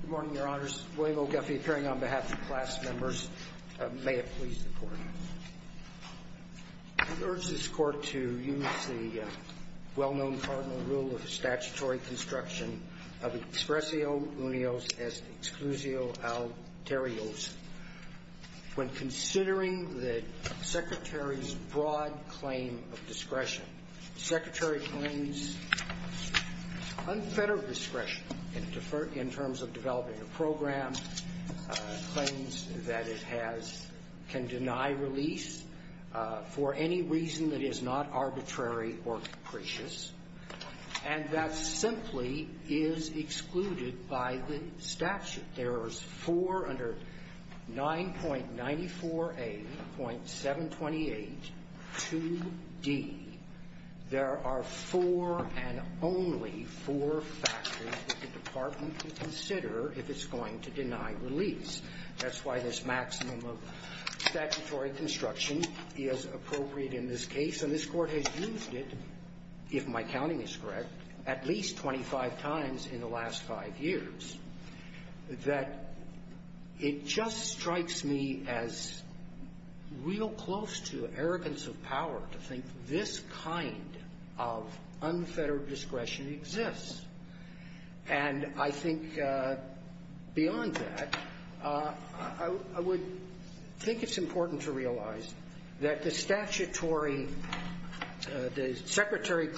Good morning, Your Honors. William O. Guffey appearing on behalf of the class members. May it please the Court. I urge this Court to use the well-known cardinal rule of statutory construction of expressio unios as exclusio alterios. When considering the Secretary's broad claim of discretion, the Secretary claims unfettered discretion in terms of developing a program, claims that it can deny release for any reason that is not arbitrary or capricious. And that simply is excluded by the statute. There are four under 9.94a.7282d. There are four and only four factors that the Department can consider if it's going to deny release. That's why this maximum of statutory construction is appropriate in this case. And this Court has used it, if my counting is correct, at least 25 times in the last five years, that it just strikes me as real close to arrogance of power to think this kind of unfettered discretion exists. And I think, beyond that, there are other I would think it's important to realize that the statutory, the Secretary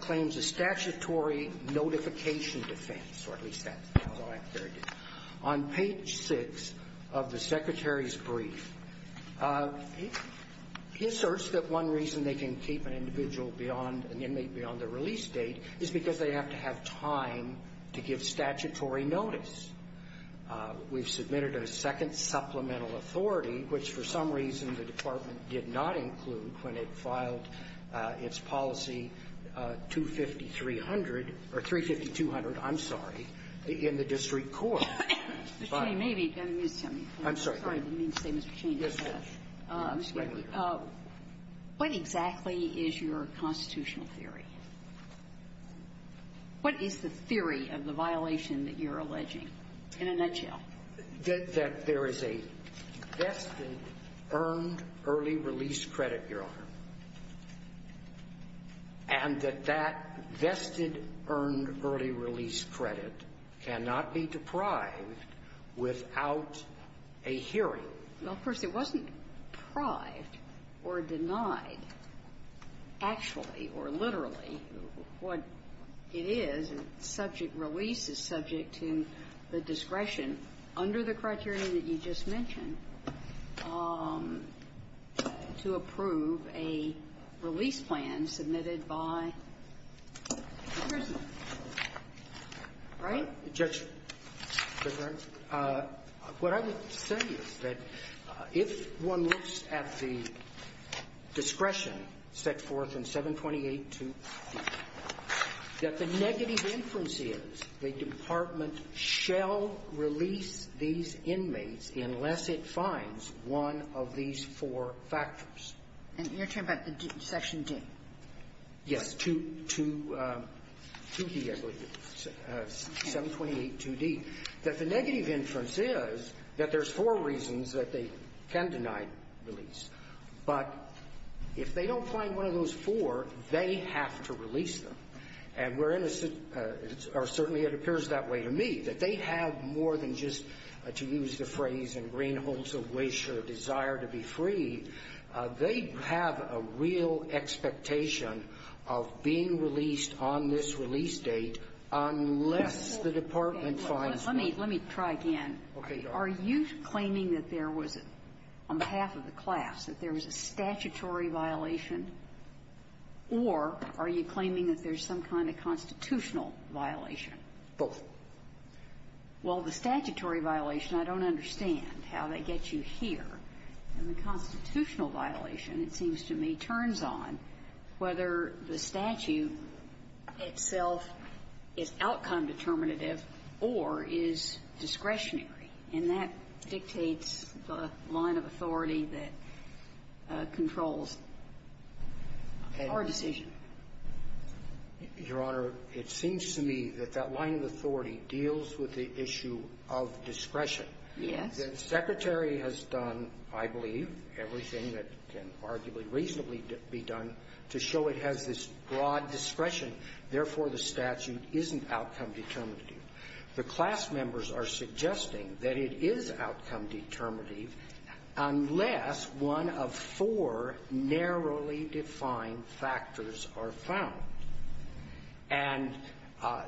claims a statutory notification defense, or at least that's how I heard it, on page 6 of the Secretary's brief. He asserts that one reason they can keep an individual beyond, an inmate beyond is because they have to have time to give statutory notice. We've submitted a second supplemental authority, which, for some reason, the Department did not include when it filed its policy 25300, or 35200, I'm sorry, in the district court. I'm sorry, I didn't mean to say, Mr. Cheney, what exactly is your constitutional theory? What is the theory of the violation that you're alleging, in a nutshell? That there is a vested earned early release credit, Your Honor, and that that vested earned early release credit cannot be deprived without a hearing? Well, first, it wasn't prived or denied, actually, or literally, what it is. Subject release is subject to the discretion, under the criteria that you just mentioned, to approve a release plan submitted by the prisoner. Right? Judge, what I would say is that if one looks at the discretion set forth in 728-2c, that the negative inference is the Department shall release these inmates unless it finds one of these four factors. And you're talking about the Section D? Yes. 2 to 2d, I believe. 728-2d. That the negative inference is that there's four reasons that they can deny release. But if they don't find one of those four, they have to release them. And we're in a certainly it appears that way to me, that they have more than just to use the phrase in greenholts of wish or desire to be free. They have a real expectation of being released on this release date unless the Department finds one. Let me try again. Are you claiming that there was, on behalf of the class, that there was a statutory violation, or are you claiming that there's some kind of constitutional violation? Both. Well, the statutory violation, I don't understand how they get you here. And the constitutional violation, it seems to me, turns on whether the statute itself is outcome determinative or is discretionary. And that dictates the line of authority that controls our decision. Your Honor, it seems to me that that line of authority deals with the issue of discretion. Yes. The Secretary has done, I believe, everything that can arguably reasonably be done to show it has this broad discretion. Therefore, the statute isn't outcome determinative. The class members are suggesting that it is outcome determinative unless one of four narrowly defined factors are found. And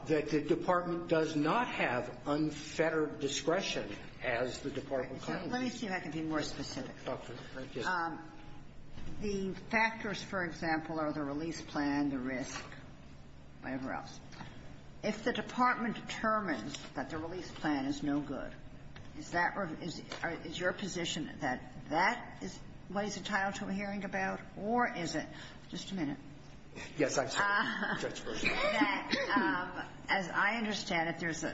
that the Department does not have unfettered discretion as the Department claims. Let me see if I can be more specific. Dr. Gill. The factors, for example, are the release plan, the risk, whatever else. If the Department determines that the release plan is no good, is that or is your position that that is what is entitled to a hearing about, or is it just a minute? Yes, I'm sorry, Judge Gershwin. That, as I understand it, there's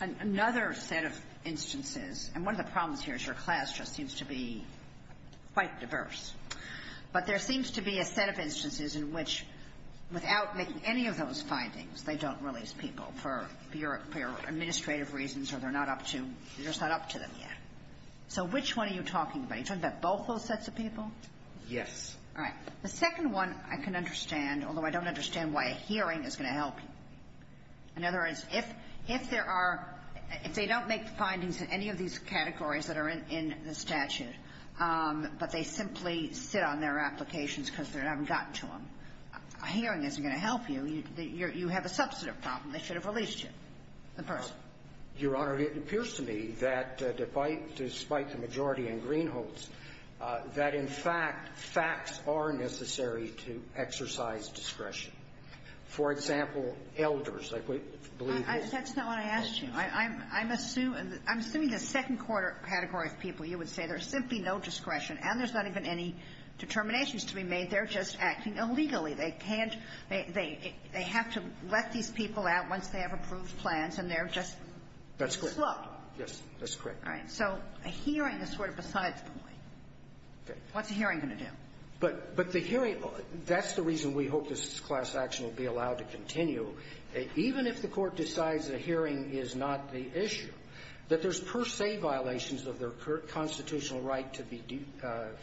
another set of instances. And one of the problems here is your class just seems to be quite diverse. But there seems to be a set of instances in which, without making any of those findings, they don't release people for your administrative reasons or they're not up to you're just not up to them yet. So which one are you talking about? Are you talking about both those sets of people? Yes. All right. The second one I can understand, although I don't understand why a hearing is going to help you. In other words, if there are – if they don't make the findings in any of these categories that are in the statute, but they simply sit on their applications because they haven't gotten to them, a hearing isn't going to help you. You have a substantive problem. They should have released you, the person. Your Honor, it appears to me that despite the majority in Greenholz, that in fact, facts are necessary to exercise discretion. For example, elders, like we believe they are. That's not what I asked you. I'm assuming the second-quarter category of people, you would say, there's simply no discretion, and there's not even any determinations to be made. They're just acting illegally. They can't – they have to let these people out once they have approved plans, and they're just – That's correct. Slow. Yes, that's correct. All right. So a hearing is sort of besides the point. Okay. What's a hearing going to do? But the hearing – that's the reason we hope this class action will be allowed to continue. Even if the Court decides a hearing is not the issue, that there's per se violations of their constitutional right to be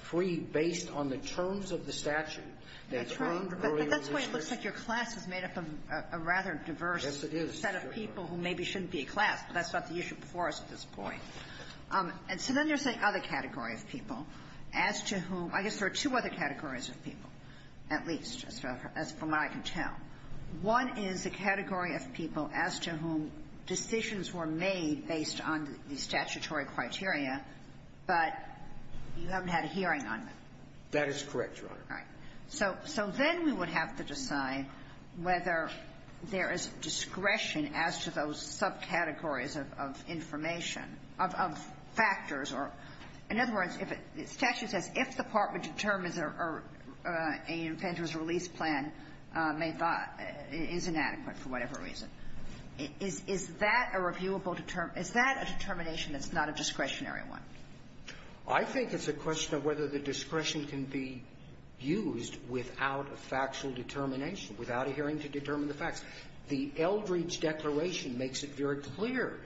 freed based on the terms of the statute. That's right. But that's why it looks like your class is made up of a rather diverse set of people who maybe shouldn't be a class, but that's not the issue before us at this point. And so then there's the other category of people as to whom – I guess there are two other categories of people, at least, as far as I can tell. One is a category of people as to whom decisions were made based on the statutory criteria, but you haven't had a hearing on them. That is correct, Your Honor. All right. So then we would have to decide whether there is discretion as to those subcategories of information, of factors, or – in other words, if it – the statute says if the part which determines a inventor's release plan may – is inadequate for whatever reason, is that a reviewable – is that a determination that's not a discretionary one? I think it's a question of whether the discretion can be used without a factual determination, without a hearing to determine the facts. The Eldridge Declaration makes it very clear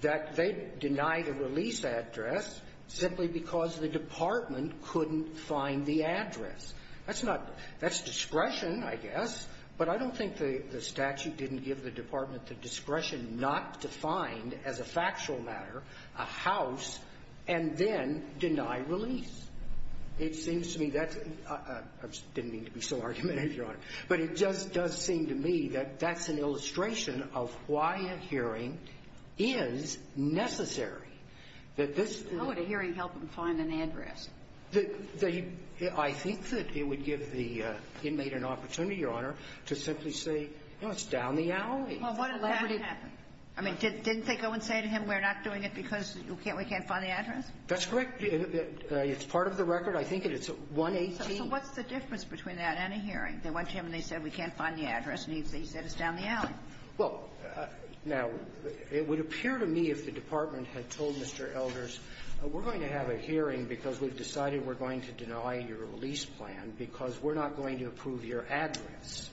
that they denied a release address simply because the department couldn't find the address. That's not – that's discretion, I guess, but I don't think the statute didn't give the department the discretion not to find, as a factual matter, a house and then deny release. It seems to me that's – I didn't mean to be so argumentative, Your Honor. But it just does seem to me that that's an illustration of why a hearing is necessary, that this – How would a hearing help them find an address? The – I think that it would give the inmate an opportunity, Your Honor, to simply say, you know, it's down the alley. Well, what if that happened? I mean, didn't they go and say to him, we're not doing it because we can't find the address? That's correct. It's part of the record. I think it's 118. So what's the difference between that and a hearing? They went to him and they said, we can't find the address, and he said, it's down the alley. Well, now, it would appear to me if the department had told Mr. Elders, we're going to have a hearing because we've decided we're going to deny your release plan because we're not going to approve your address.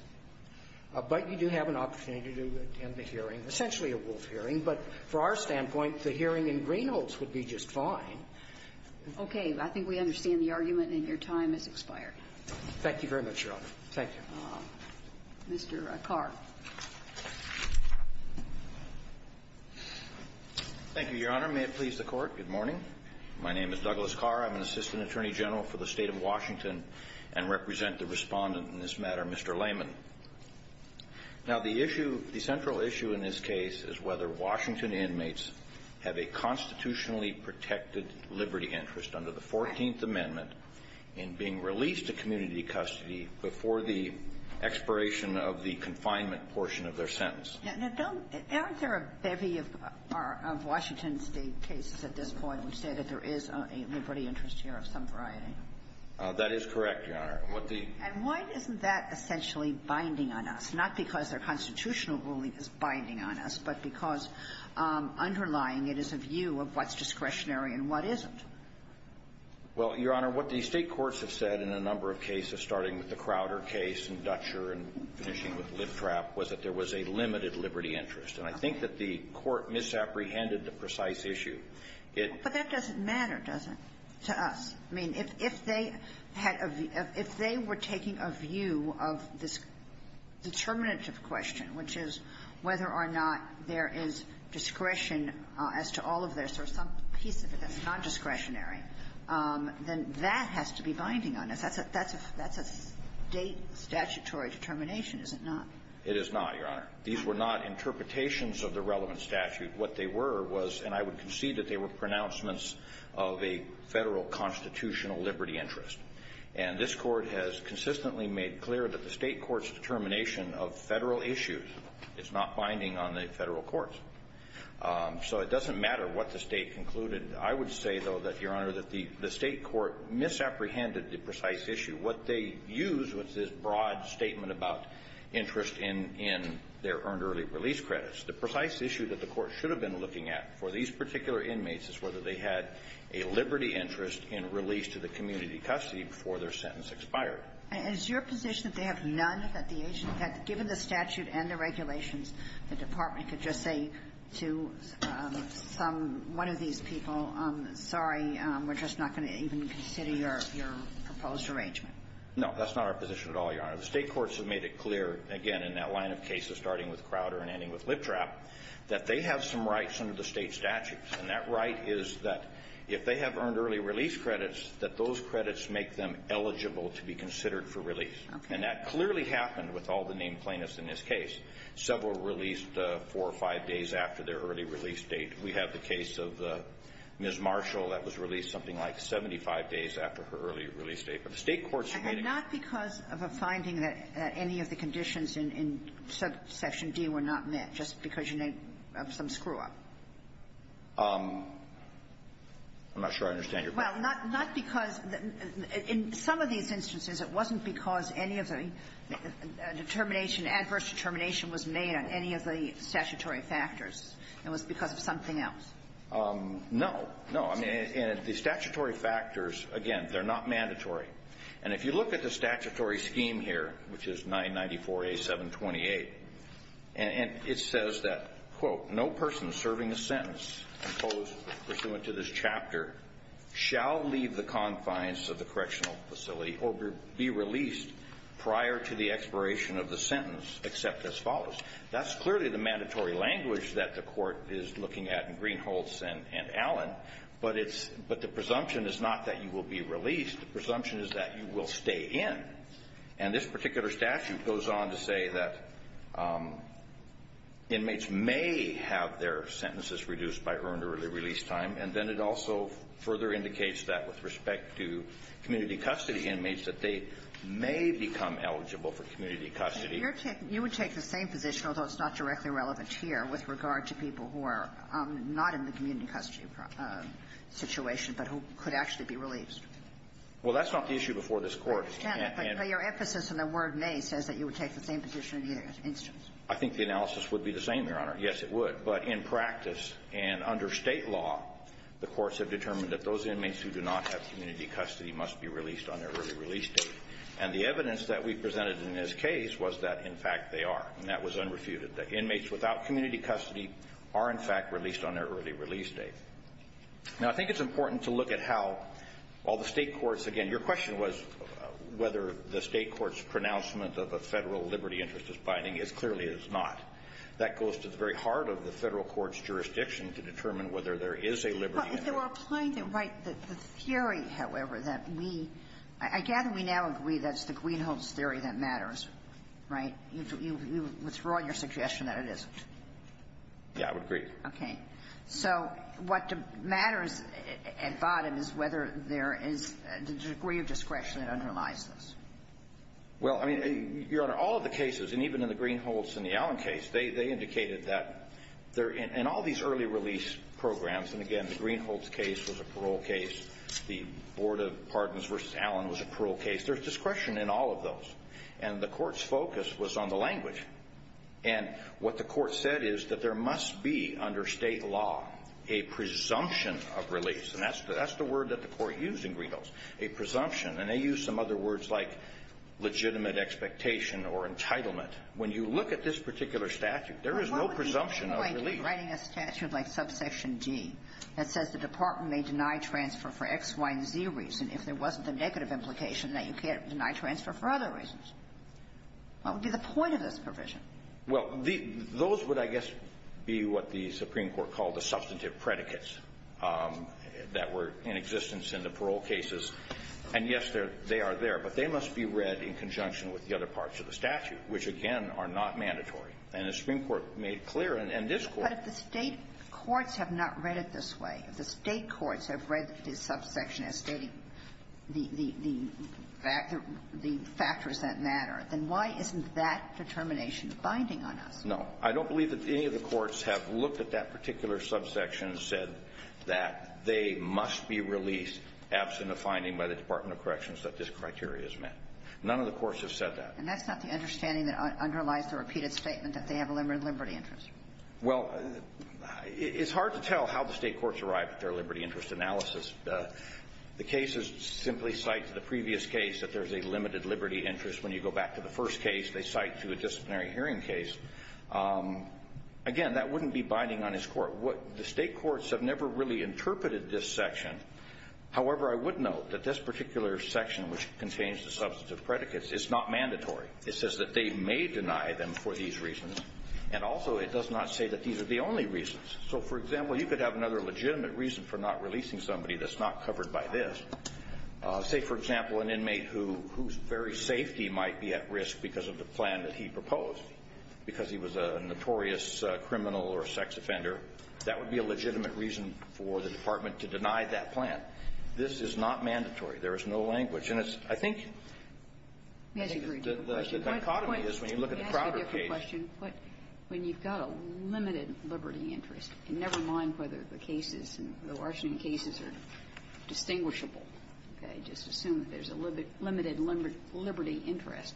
But you do have an opportunity to attend the hearing, essentially a Wolf hearing. But from our standpoint, the hearing in Greenholz would be just fine. Okay. I think we understand the argument, and your time has expired. Thank you very much, Your Honor. Thank you. Mr. Carr. Thank you, Your Honor. May it please the Court. Good morning. My name is Douglas Carr. I'm an assistant attorney general for the State of Washington and represent the Respondent in this matter, Mr. Layman. Now, the issue, the central issue in this case is whether Washington inmates have a constitutionally protected liberty interest under the Fourteenth Amendment in being released to community custody before the expiration of the confinement portion of their sentence. Now, Bill, aren't there a bevy of Washington State cases at this point which say that there is a liberty interest here of some variety? That is correct, Your Honor. And what the And why isn't that essentially binding on us? Not because their constitutional ruling is binding on us, but because underlying it is a view of what's discretionary and what isn't. Well, Your Honor, what the State courts have said in a number of cases, starting with the Crowder case and Dutcher and finishing with Littrapp, was that there was a limited liberty interest. And I think that the court misapprehended the precise issue. But that doesn't matter, does it, to us? I mean, if they were taking a view of this determinative question, which is whether or not there is discretion as to all of this or some piece of it that's not discretionary, then that has to be binding on us. That's a State statutory determination, is it not? It is not, Your Honor. These were not interpretations of the relevant statute. What they were was, and I would concede that they were pronouncements of a Federal constitutional liberty interest. And this Court has consistently made clear that the State court's determination of Federal issues is not binding on the Federal courts. So it doesn't matter what the State concluded. I would say, though, that, Your Honor, that the State court misapprehended the precise issue. What they used was this broad statement about interest in their earned early release credits. The precise issue that the court should have been looking at for these particular inmates is whether they had a liberty interest in release to the community custody before their sentence expired. And is your position that they have none, that the agent had to be given the statute and the regulations, the department could just say to some one of these people sorry, we're just not going to even consider your proposed arrangement? No, that's not our position at all, Your Honor. The State courts have made it clear, again, in that line of cases, starting with Crowder and ending with Liptrap, that they have some rights under the State statutes. And that right is that if they have earned early release credits, that those credits make them eligible to be considered for release. Okay. And that clearly happened with all the named plaintiffs in this case. Several released four or five days after their early release date. We have the case of Ms. Marshall that was released something like 75 days after her early release date. But the State courts have made it clear. And not because of a finding that any of the conditions in Section D were not met, just because you made some screw-up? I'm not sure I understand your question. Well, not because the — in some of these instances, it wasn't because any of the determination, adverse determination was made on any of the statutory factors. It was because of something else. No. No. I mean, the statutory factors, again, they're not mandatory. And if you look at the statutory scheme here, which is 994A.728, and it says that, quote, No person serving a sentence imposed pursuant to this chapter shall leave the confines of the correctional facility or be released prior to the expiration of the sentence, except as follows. That's clearly the mandatory language that the Court is looking at in Greenholz and Allen. But it's — but the presumption is not that you will be released. The presumption is that you will stay in. And this particular statute goes on to say that inmates may have their sentences reduced by her early release time. And then it also further indicates that, with respect to community custody inmates, that they may become eligible for community custody. You're taking — you would take the same position, although it's not directly relevant here, with regard to people who are not in the community custody situation but who could actually be released. Well, that's not the issue before this Court. I understand that, but your emphasis in the word may says that you would take the same position in either instance. I think the analysis would be the same, Your Honor. Yes, it would. But in practice and under State law, the courts have determined that those inmates who do not have community custody must be released on their early release date. And the evidence that we presented in this case was that, in fact, they are. And that was unrefuted. The inmates without community custody are, in fact, released on their early release date. Now, I think it's important to look at how all the State courts — again, your question was whether the State court's pronouncement of a Federal liberty interest is binding. It clearly is not. That goes to the very heart of the Federal court's jurisdiction to determine whether there is a liberty interest. If they were applying it right, the theory, however, that we — I gather we now agree that it's the Greenholds theory that matters, right? You withdraw your suggestion that it isn't. Yeah, I would agree. Okay. So what matters at bottom is whether there is a degree of discretion that underlies this. Well, I mean, Your Honor, all of the cases, and even in the Greenholds and the Allen case, the Greenholds case was a parole case. The Board of Pardons v. Allen was a parole case. There's discretion in all of those. And the Court's focus was on the language. And what the Court said is that there must be, under State law, a presumption of release. And that's the word that the Court used in Greenholds, a presumption. And they used some other words like legitimate expectation or entitlement. When you look at this particular statute, there is no presumption of release. It's like writing a statute like subsection D that says the department may deny transfer for X, Y, and Z reason if there wasn't the negative implication that you can't deny transfer for other reasons. What would be the point of this provision? Well, the — those would, I guess, be what the Supreme Court called the substantive predicates that were in existence in the parole cases. And, yes, they are there. But they must be read in conjunction with the other parts of the statute, which, again, are not mandatory. And the Supreme Court made clear, and this Court — But if the State courts have not read it this way, if the State courts have read this subsection as stating the factors that matter, then why isn't that determination binding on us? No. I don't believe that any of the courts have looked at that particular subsection and said that they must be released absent a finding by the Department of Corrections that this criteria is met. None of the courts have said that. And that's not the understanding that underlies the repeated statement that they have a limited liberty interest. Well, it's hard to tell how the State courts arrive at their liberty interest analysis. The cases simply cite to the previous case that there's a limited liberty interest. When you go back to the first case, they cite to a disciplinary hearing case. Again, that wouldn't be binding on this Court. The State courts have never really interpreted this section. However, I would note that this particular section, which contains the substantive predicates, it's not mandatory. It says that they may deny them for these reasons, and also it does not say that these are the only reasons. So, for example, you could have another legitimate reason for not releasing somebody that's not covered by this. Say, for example, an inmate whose very safety might be at risk because of the plan that he proposed, because he was a notorious criminal or a sex offender. That would be a legitimate reason for the Department to deny that plan. This is not mandatory. There is no language. And it's, I think, the dichotomy is when you look at the Crowder case. Kagan. But when you've got a limited liberty interest, and never mind whether the cases in the Washington cases are distinguishable, okay, just assume that there's a limited liberty interest,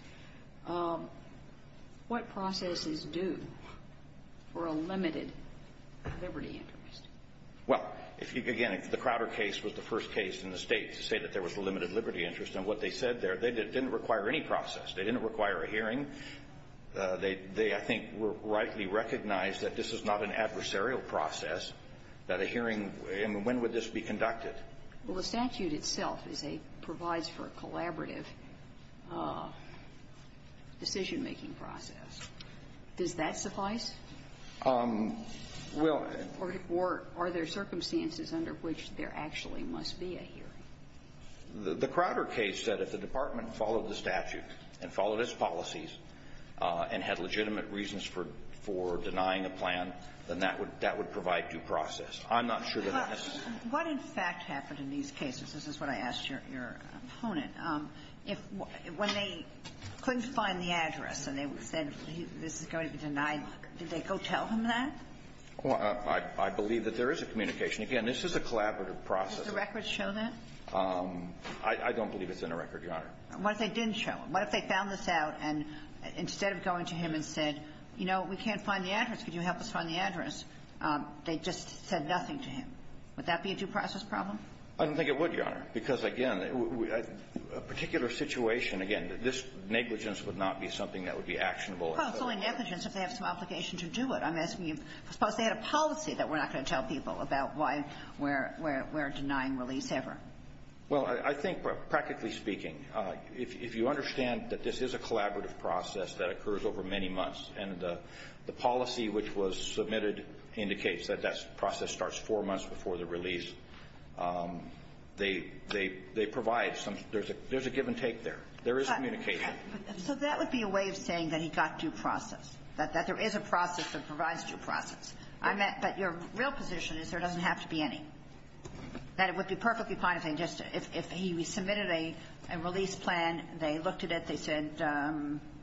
what processes do for a limited liberty interest? Well, if you, again, if the Crowder case was the first case in the State to say that there was a limited liberty interest, and what they said there, they didn't require any process. They didn't require a hearing. They, I think, were rightly recognized that this is not an adversarial process, that a hearing, I mean, when would this be conducted? Well, the statute itself is a --"provides for a collaborative decision-making Does that suffice? Well, I don't think so. Or are there circumstances under which there actually must be a hearing? The Crowder case said if the Department followed the statute and followed its policies and had legitimate reasons for denying a plan, then that would provide due process. I'm not sure that that's the case. What, in fact, happened in these cases? This is what I asked your opponent. If, when they couldn't find the address and they said this is going to be denied, did they go tell him that? Well, I believe that there is a communication. Again, this is a collaborative process. Does the record show that? I don't believe it's in the record, Your Honor. What if they didn't show? What if they found this out and instead of going to him and said, you know, we can't find the address, could you help us find the address? They just said nothing to him. Would that be a due process problem? I don't think it would, Your Honor, because, again, a particular situation, again, this negligence would not be something that would be actionable. Well, it's only negligence if they have some obligation to do it. I'm asking you, suppose they had a policy that we're not going to tell people about why we're denying release ever? Well, I think, practically speaking, if you understand that this is a collaborative process that occurs over many months and the policy which was submitted indicates that that process starts four months before the release, they provide some, there's a give and take there. There is communication. So that would be a way of saying that he got due process, that there is a process that provides due process. But your real position is there doesn't have to be any. That it would be perfectly fine if they just, if he submitted a release plan, they looked at it, they said,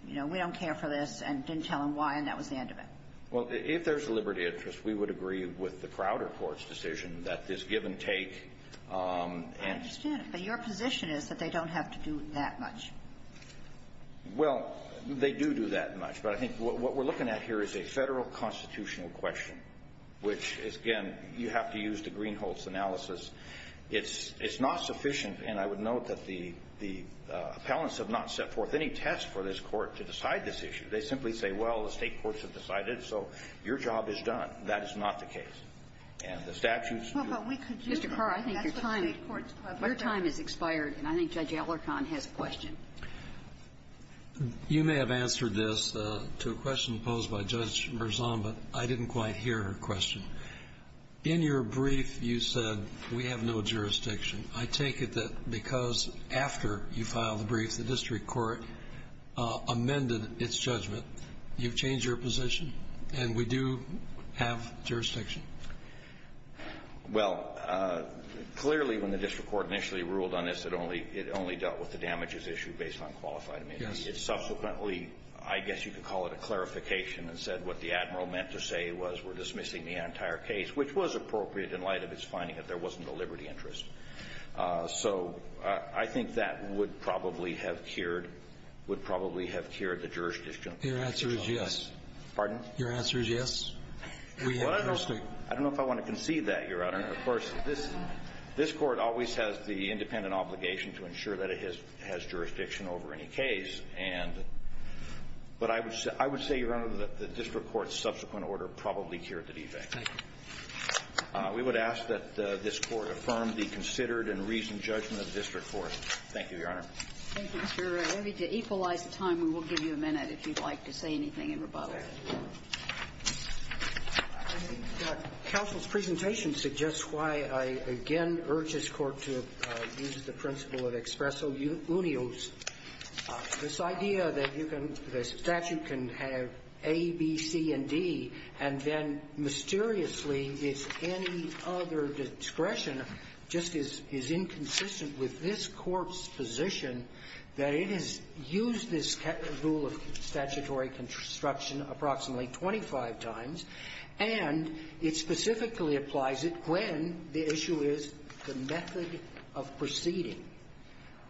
you know, we don't care for this, and didn't tell him why, and that was the end of it. Well, if there's a liberty of interest, we would agree with the Crowder Court's decision that this give and take and… I understand it, but your position is that they don't have to do that much. Well, they do do that much, but I think what we're looking at here is a Federal constitutional question, which is, again, you have to use the Greenholtz analysis. It's not sufficient, and I would note that the appellants have not set forth any test for this Court to decide this issue. They simply say, well, the State courts have decided, so your job is done. That is not the case. And the statutes do… Well, but we could just… Mr. Carr, I think your time… That's what the State courts… Your time has expired, and I think Judge Allercon has a question. You may have answered this to a question posed by Judge Marzomba. I didn't quite hear her question. In your brief, you said, we have no jurisdiction. I take it that because after you filed the brief, the district court amended its judgment. You've changed your position, and we do have jurisdiction. Well, clearly, when the district court initially ruled on this, it only dealt with the damages issued based on qualified amendments. It subsequently, I guess you could call it a clarification, and said what the Admiral meant to say was, we're dismissing the entire case, which was appropriate in light of its finding that there wasn't a liberty interest. So I think that would probably have cured… would probably have cured the jurisdiction of the district court. Your answer is yes. Pardon? Your answer is yes. We have jurisdiction. Well, I don't know if I want to concede that, Your Honor. Of course, this Court always has the independent obligation to ensure that it has jurisdiction over any case, and… but I would say, Your Honor, that the district court's subsequent order probably cured the defect. We would ask that this Court affirm the considered and reasoned judgment of the district court. Thank you, Your Honor. Thank you, Mr. Ray. Let me equalize the time, and we'll give you a minute if you'd like to say anything in rebuttal. Counsel's presentation suggests why I again urge this Court to use the principle of expresso unios. This idea that you can – that a statute can have A, B, C, and D, and then mysteriously it's any other discretion just is inconsistent with this Court's position that it is – that you can use this rule of statutory construction approximately 25 times, and it specifically applies it when the issue is the method of proceeding.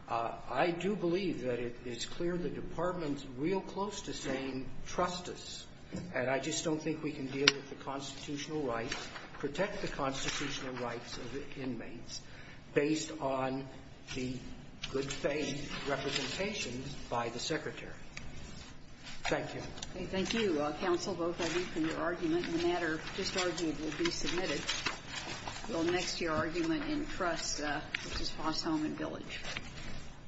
I do believe that it is clear the Department's real close to saying, trust us, and I just don't think we can deal with the constitutional rights, protect the constitutional rights of the inmates, based on the good faith representation by the Secretary. Thank you. Okay. Thank you, counsel. Both I read from your argument, and the matter just argued will be submitted. We'll next to your argument in trust, which is Fostholm and Village.